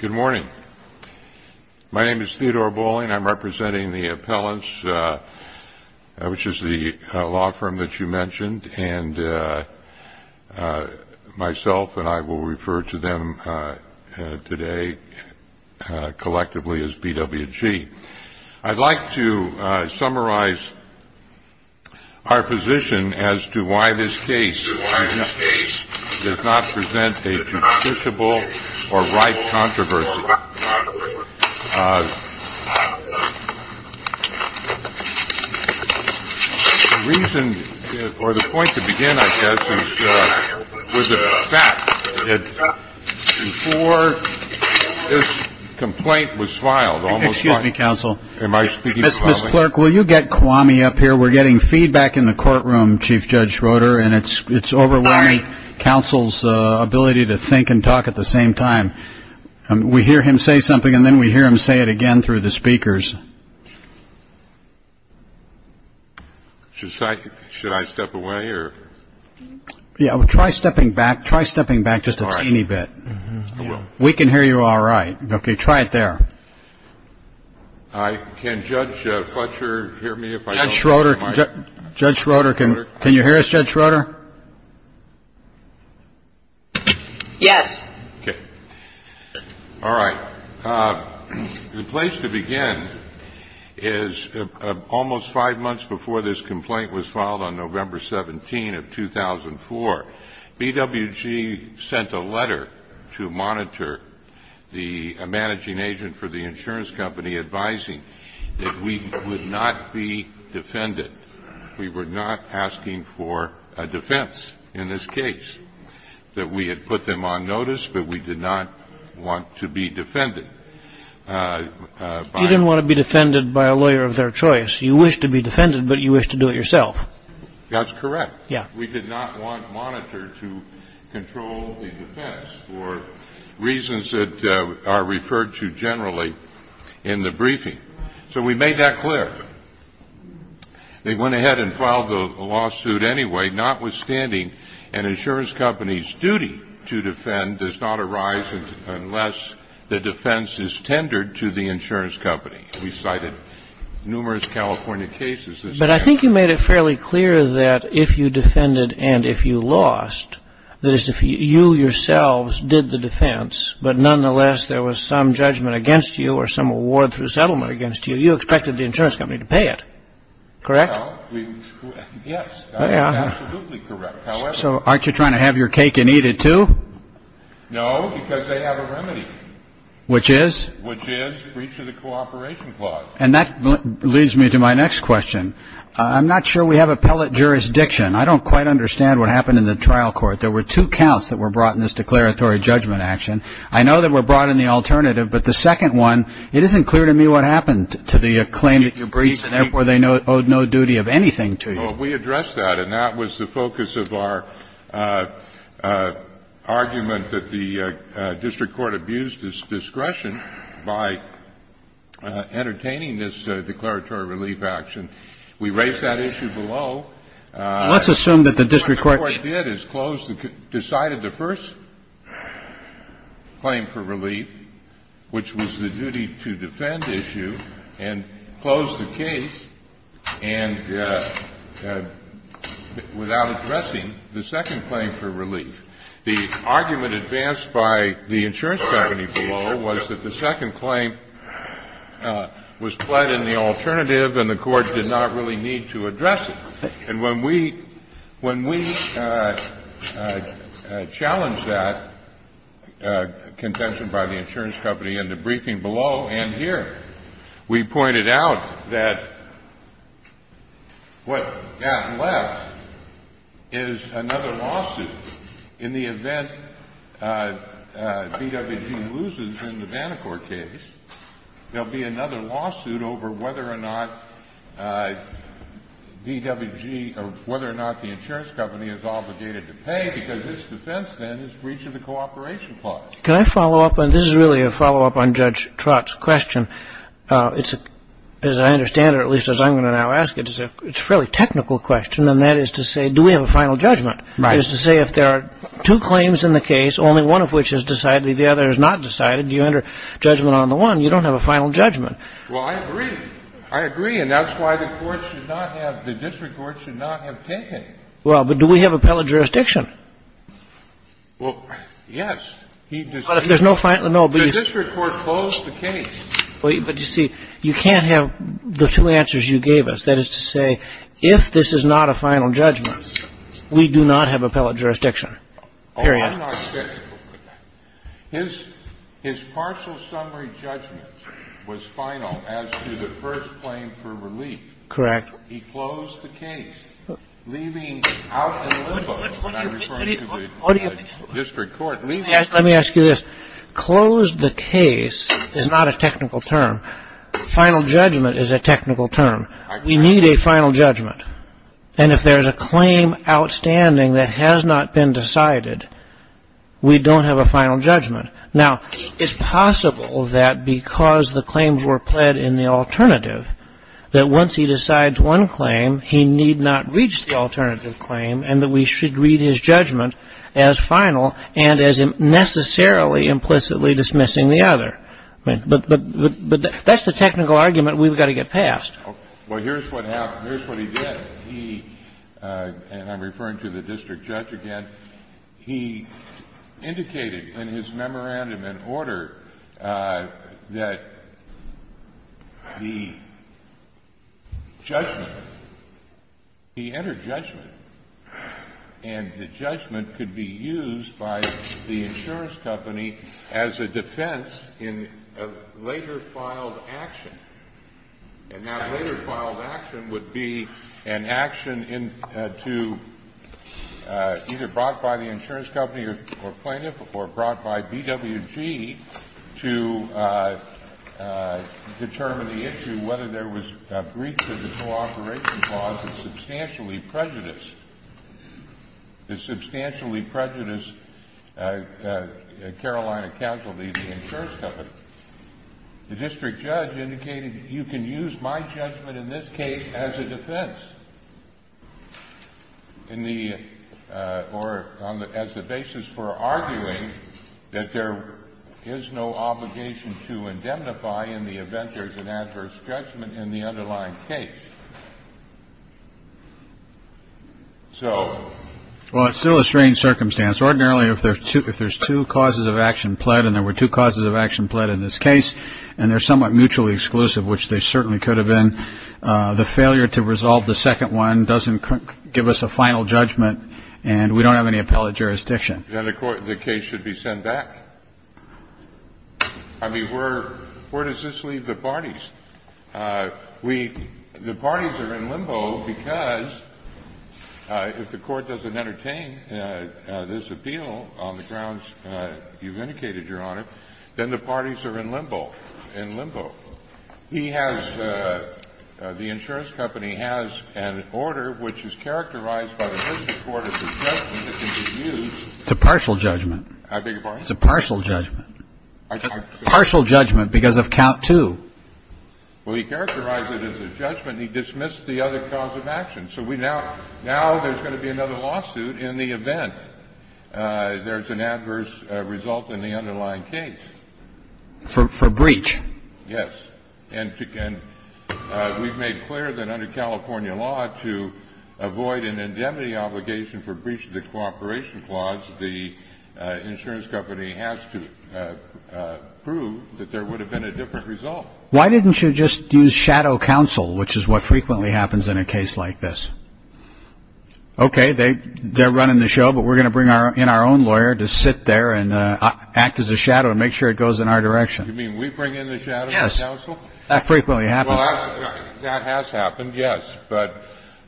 Good morning. My name is Theodore Bolling. I'm representing the appellants, which is the law firm that you mentioned, and myself and I will refer to them today collectively as BWG. I'd like to summarize our position as to why this case does not present a justiciable or right controversy. The reason or the point to begin, I guess, is with the fact that before this complaint was filed, almost- Excuse me, counsel. Am I speaking too loudly? Mr. Clerk, will you get Kwame up here? We're getting feedback in the courtroom, Chief Judge Schroeder, and it's overwhelming counsel's ability to think and talk at the same time. We hear him say something, and then we hear him say it again through the speakers. Should I step away? Yeah, try stepping back. Try stepping back just a teeny bit. We can hear you all right. Okay, try it there. Can Judge Fletcher hear me? Judge Schroeder, can you hear us, Judge Schroeder? Yes. Okay. All right. The place to begin is almost five months before this complaint was filed on November 17 of 2004, BWG sent a letter to monitor the managing agent for the insurance company advising that we would not be defended. We were not asking for a defense in this case, that we had put them on notice, but we did not want to be defended by- You didn't want to be defended by a lawyer of their choice. You wished to be defended, but you wished to do it yourself. That's correct. Yeah. We did not want monitor to control the defense for reasons that are referred to generally in the briefing. So we made that clear. They went ahead and filed the lawsuit anyway, notwithstanding an insurance company's duty to defend does not arise unless the defense is tendered to the insurance company. We cited numerous California cases- But I think you made it fairly clear that if you defended and if you lost, that is, if you yourselves did the defense, but nonetheless there was some judgment against you or some award through settlement against you, you expected the insurance company to pay it. Correct? Yes. Absolutely correct. So aren't you trying to have your cake and eat it, too? No, because they have a remedy. Which is? Which is breach of the cooperation clause. And that leads me to my next question. I'm not sure we have appellate jurisdiction. I don't quite understand what happened in the trial court. There were two counts that were brought in this declaratory judgment action. I know that were brought in the alternative, but the second one, it isn't clear to me what happened to the claim that you breached, and therefore they owed no duty of anything to you. Well, we addressed that, and that was the focus of our argument that the district court abused its discretion by entertaining this declaratory relief action. We raised that issue below. Let's assume that the district court- Yes. Decided the first claim for relief, which was the duty to defend issue, and closed the case without addressing the second claim for relief. The argument advanced by the insurance company below was that the second claim was fled in the alternative, and the court did not really need to address it. And when we challenged that contention by the insurance company in the briefing below and here, we pointed out that what got left is another lawsuit. In the event DWG loses in the Bannacourt case, there will be another lawsuit over whether or not DWG or whether or not the insurance company is obligated to pay, because its defense, then, is breach of the cooperation clause. Can I follow up? This is really a follow-up on Judge Trott's question. As I understand it, or at least as I'm going to now ask it, it's a fairly technical question, and that is to say, do we have a final judgment? That is to say, if there are two claims in the case, only one of which is decided, the other is not decided, do you enter judgment on the one? You don't have a final judgment. Well, I agree. I agree. And that's why the court should not have the district court should not have taken it. Well, but do we have appellate jurisdiction? Well, yes. But if there's no final no, but you see- The district court closed the case. But you see, you can't have the two answers you gave us. That is to say, if this is not a final judgment, we do not have appellate jurisdiction, period. Oh, I'm not sure. His partial summary judgment was final as to the first claim for relief. Correct. He closed the case, leaving out the limbo, and I'm referring to the district court. Let me ask you this. Closed the case is not a technical term. Final judgment is a technical term. We need a final judgment. And if there's a claim outstanding that has not been decided, we don't have a final judgment. Now, it's possible that because the claims were pled in the alternative, that once he decides one claim, he need not reach the alternative claim and that we should read his judgment as final and as necessarily implicitly dismissing the other. But that's the technical argument we've got to get past. Well, here's what happened. Here's what he did. He, and I'm referring to the district judge again, he indicated in his memorandum in order that the judgment, he entered judgment. And the judgment could be used by the insurance company as a defense in a later filed action. And that later filed action would be an action to either brought by the insurance company or plaintiff or brought by BWG to determine the issue, whether there was breach of the cooperation clause that substantially prejudiced Carolina Casualty, the insurance company. The district judge indicated you can use my judgment in this case as a defense in the, or as a basis for arguing that there is no obligation to indemnify in the event there's an adverse judgment in the underlying case. So. Well, it's still a strange circumstance. Ordinarily, if there's two causes of action pled and there were two causes of action pled in this case and they're somewhat mutually exclusive, which they certainly could have been, the failure to resolve the second one doesn't give us a final judgment and we don't have any appellate jurisdiction. Then the case should be sent back. I mean, where does this leave the parties? The parties are in limbo because if the court doesn't entertain this appeal on the grounds you've indicated, Your Honor, then the parties are in limbo, in limbo. He has, the insurance company has an order which is characterized by the first court as a judgment that can be used. It's a partial judgment. I beg your pardon? It's a partial judgment. I'm sorry. Partial judgment because of count two. Well, he characterized it as a judgment and he dismissed the other cause of action. So now there's going to be another lawsuit in the event there's an adverse result in the underlying case. For breach. Yes. And we've made clear that under California law to avoid an indemnity obligation for breach of the cooperation clause, the insurance company has to prove that there would have been a different result. Why didn't you just use shadow counsel, which is what frequently happens in a case like this? Okay. They're running the show, but we're going to bring in our own lawyer to sit there and act as a shadow and make sure it goes in our direction. You mean we bring in the shadow counsel? Yes. That frequently happens. That has happened, yes. But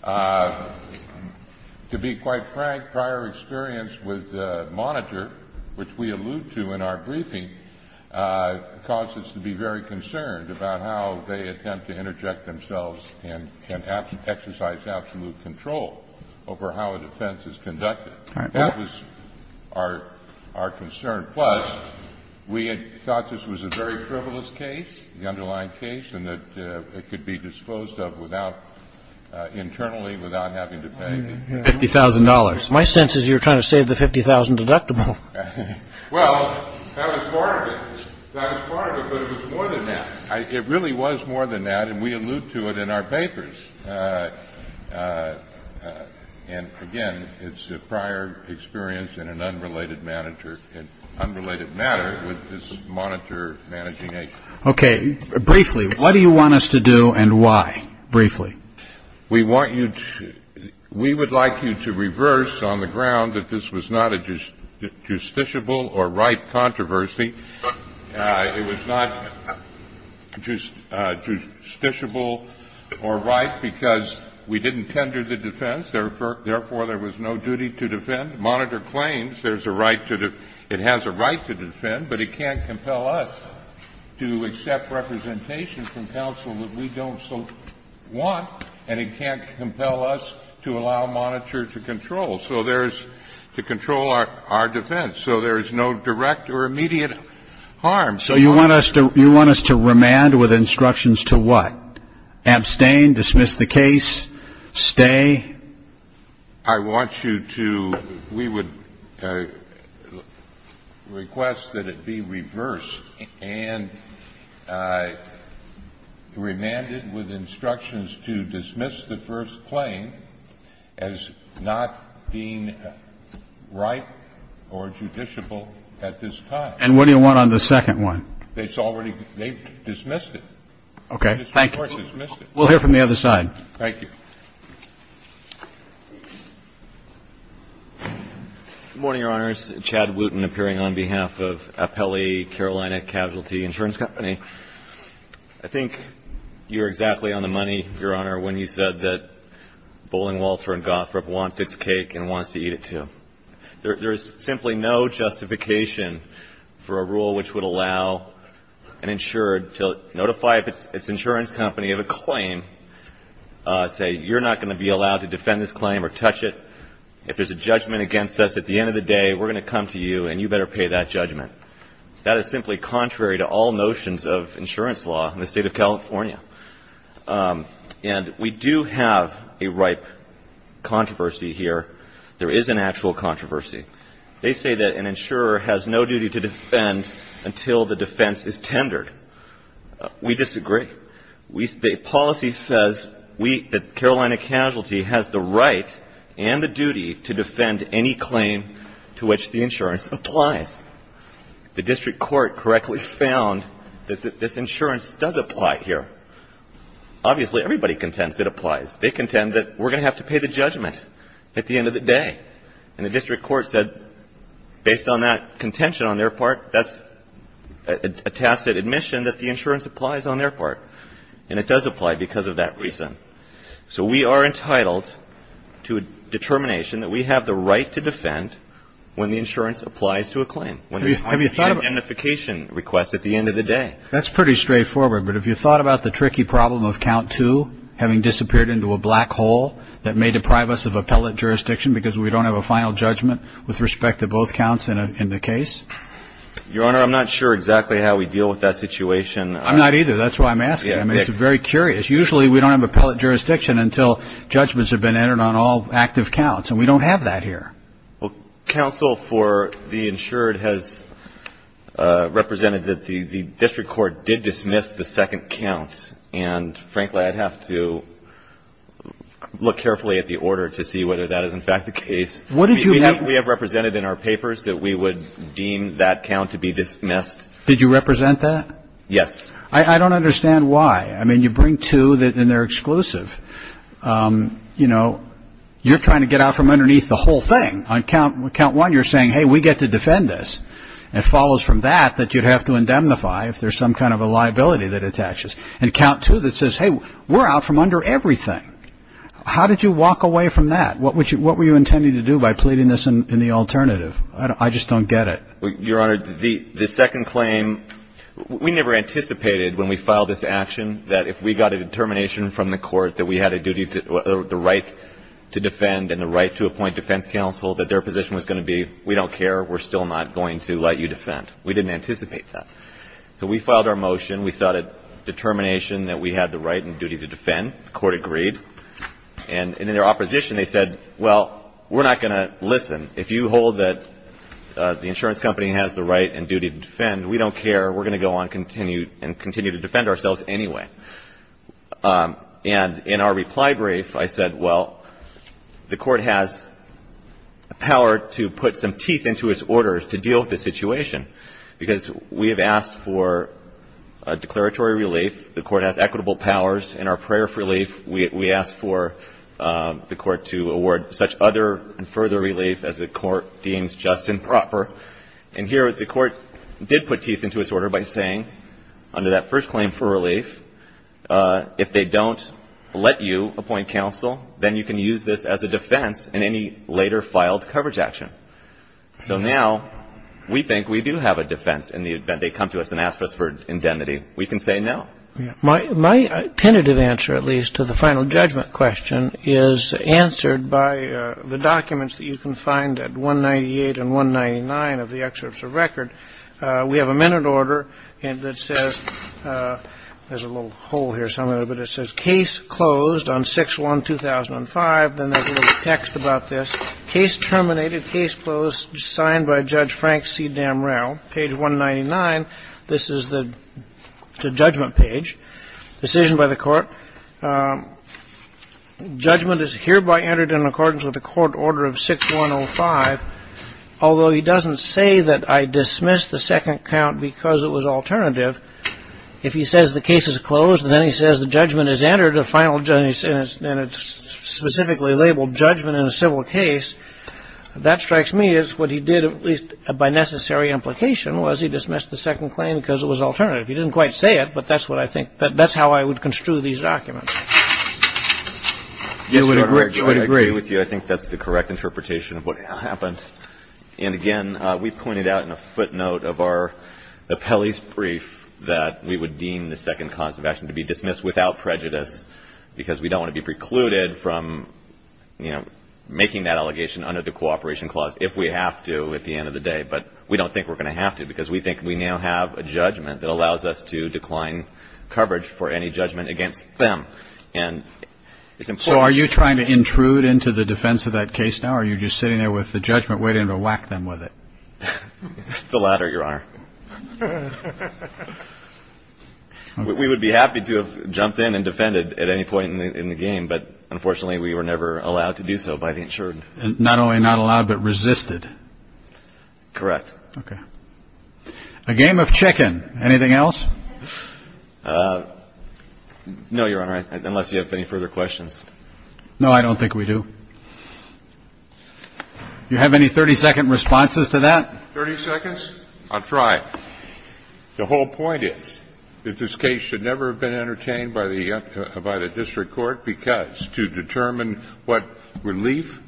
to be quite frank, prior experience with Monitor, which we allude to in our briefing, caused us to be very concerned about how they attempt to interject themselves and exercise absolute control over how a defense is conducted. That was our concern. Plus, we had thought this was a very frivolous case, the underlying case, and that it could be disposed of without, internally, without having to pay. $50,000. My sense is you're trying to save the $50,000 deductible. Well, that was part of it. That was part of it, but it was more than that. It really was more than that, and we allude to it in our papers. And, again, it's a prior experience in an unrelated matter with this Monitor managing agency. Okay. Briefly, what do you want us to do and why, briefly? We want you to we would like you to reverse on the ground that this was not a justiciable or right controversy. It was not justiciable or right because we didn't tender the defense. Therefore, there was no duty to defend. Monitor claims there's a right to defend. It has a right to defend, but it can't compel us to accept representation from counsel that we don't so want, and it can't compel us to allow Monitor to control, to control our defense. So there is no direct or immediate harm. So you want us to you want us to remand with instructions to what? Abstain, dismiss the case, stay? I want you to we would request that it be reversed and remanded with instructions to dismiss the first claim as not being right or judiciable at this time. And what do you want on the second one? It's already they've dismissed it. Okay. Thank you. We'll hear from the other side. Thank you. Good morning, Your Honors. Chad Wooten appearing on behalf of Appelli Carolina Casualty Insurance Company. I think you were exactly on the money, Your Honor, when you said that Bowling Walter and Gothrop wants its cake and wants to eat it, too. There is simply no justification for a rule which would allow an insured to notify its insurance company of a claim, say, you're not going to be allowed to defend this claim or touch it. If there's a judgment against us at the end of the day, we're going to come to you, and you better pay that judgment. That is simply contrary to all notions of insurance law in the State of California. And we do have a ripe controversy here. There is an actual controversy. They say that an insurer has no duty to defend until the defense is tendered. We disagree. The policy says that Carolina Casualty has the right and the duty to defend any claim to which the insurance applies. The district court correctly found that this insurance does apply here. Obviously, everybody contends it applies. They contend that we're going to have to pay the judgment at the end of the day. And the district court said, based on that contention on their part, that's a tacit admission that the insurance applies on their part. And it does apply because of that reason. So we are entitled to a determination that we have the right to defend when the insurance applies to a claim. Have you thought of identification requests at the end of the day? That's pretty straightforward. But have you thought about the tricky problem of count two having disappeared into a black hole that may deprive us of appellate jurisdiction because we don't have a final judgment with respect to both counts in the case? Your Honor, I'm not sure exactly how we deal with that situation. I'm not either. That's why I'm asking. I mean, it's very curious. Usually, we don't have appellate jurisdiction until judgments have been entered on all active counts. And we don't have that here. Well, counsel for the insured has represented that the district court did dismiss the second count. And, frankly, I'd have to look carefully at the order to see whether that is, in fact, the case. What did you have? We have represented in our papers that we would deem that count to be dismissed. Did you represent that? Yes. I don't understand why. I mean, you bring two that are exclusive. You know, you're trying to get out from underneath the whole thing. On count one, you're saying, hey, we get to defend this. It follows from that that you'd have to indemnify if there's some kind of a liability that attaches. And count two that says, hey, we're out from under everything. How did you walk away from that? What were you intending to do by pleading this in the alternative? I just don't get it. Your Honor, the second claim, we never anticipated when we filed this action that if we got a determination from the court that we had a duty to the right to defend and the right to appoint defense counsel, that their position was going to be, we don't care, we're still not going to let you defend. We didn't anticipate that. So we filed our motion. We sought a determination that we had the right and duty to defend. The court agreed. And in their opposition, they said, well, we're not going to listen. If you hold that the insurance company has the right and duty to defend, we don't care. We're going to go on and continue to defend ourselves anyway. And in our reply brief, I said, well, the court has power to put some teeth into its order to deal with this situation because we have asked for a declaratory relief. The court has equitable powers. In our prayer for relief, we asked for the court to award such other and further relief as the court deems just and proper. And here the court did put teeth into its order by saying, under that first claim for relief, if they don't let you appoint counsel, then you can use this as a defense in any later filed coverage action. So now we think we do have a defense in the event they come to us and ask us for indemnity. We can say no. My tentative answer, at least, to the final judgment question, is answered by the documents that you can find at 198 and 199 of the excerpts of record. We have a minute order that says, there's a little hole here somewhere, but it says case closed on 6-1-2005. Then there's a little text about this. Case terminated. Case closed. Signed by Judge Frank C. Damrell. Page 199. This is the judgment page. Decision by the court. Judgment is hereby entered in accordance with the court order of 6-1-05. Although he doesn't say that I dismissed the second count because it was alternative. If he says the case is closed and then he says the judgment is entered, a final judgment and it's specifically labeled judgment in a civil case, that strikes me as what he did, at least by necessary implication, was he dismissed the second claim because it was alternative. He didn't quite say it, but that's what I think. That's how I would construe these documents. Yes, Your Honor, I agree with you. I think that's the correct interpretation of what happened. And, again, we've pointed out in a footnote of our appellee's brief that we would deem the second cause of action to be dismissed without prejudice because we don't want to be precluded from, you know, making that allegation under the cooperation clause if we have to at the end of the day. But we don't think we're going to have to because we think we now have a judgment that allows us to decline coverage for any judgment against them. So are you trying to intrude into the defense of that case now or are you just sitting there with the judgment waiting to whack them with it? The latter, Your Honor. We would be happy to have jumped in and defended at any point in the game, but, unfortunately, we were never allowed to do so by the insured. Not only not allowed, but resisted. Correct. Okay. A game of chicken. Anything else? No, Your Honor, unless you have any further questions. No, I don't think we do. Do you have any 30-second responses to that? Thirty seconds? I'll try. The whole point is that this case should never have been entertained by the district court because to determine what relief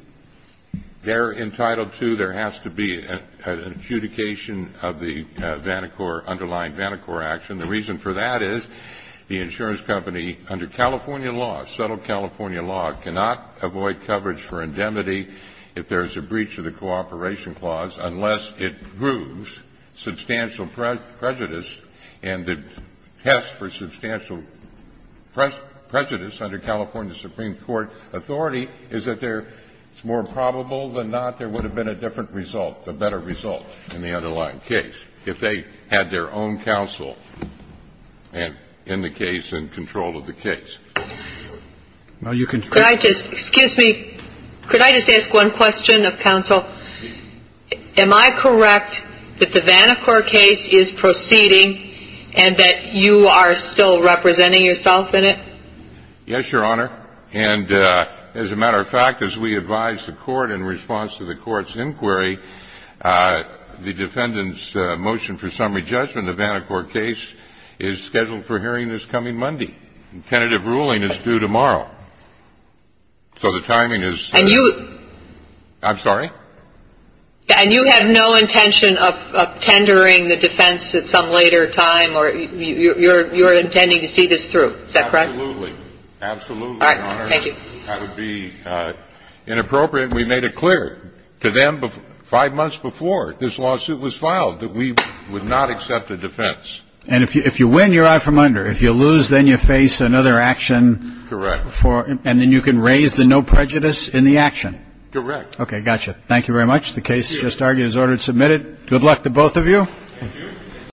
they're entitled to, there has to be an adjudication of the underlying Vanderquart action. The reason for that is the insurance company, under California law, subtle California law, cannot avoid coverage for indemnity if there's a breach of the cooperation clause unless it proves substantial prejudice and the test for substantial prejudice under California supreme court authority is that there's more probable than not there would have been a different result, a better result in the underlying case if they had their own counsel in the case and control of the case. Excuse me. Could I just ask one question of counsel? Am I correct that the Vanderquart case is proceeding and that you are still representing yourself in it? Yes, Your Honor. And as a matter of fact, as we advise the court in response to the court's inquiry, the defendant's motion for summary judgment of Vanderquart case is scheduled for hearing this coming Monday. The tentative ruling is due tomorrow. So the timing is ‑‑ And you ‑‑ I'm sorry? And you have no intention of tendering the defense at some later time or you're intending to see this through. Is that correct? Absolutely. Absolutely, Your Honor. All right. Thank you. That would be inappropriate. We made it clear to them five months before this lawsuit was filed that we would not accept a defense. And if you win, you're out from under. If you lose, then you face another action. Correct. And then you can raise the no prejudice in the action. Correct. Okay. Got you. Thank you very much. The case just argued is ordered and submitted. Good luck to both of you.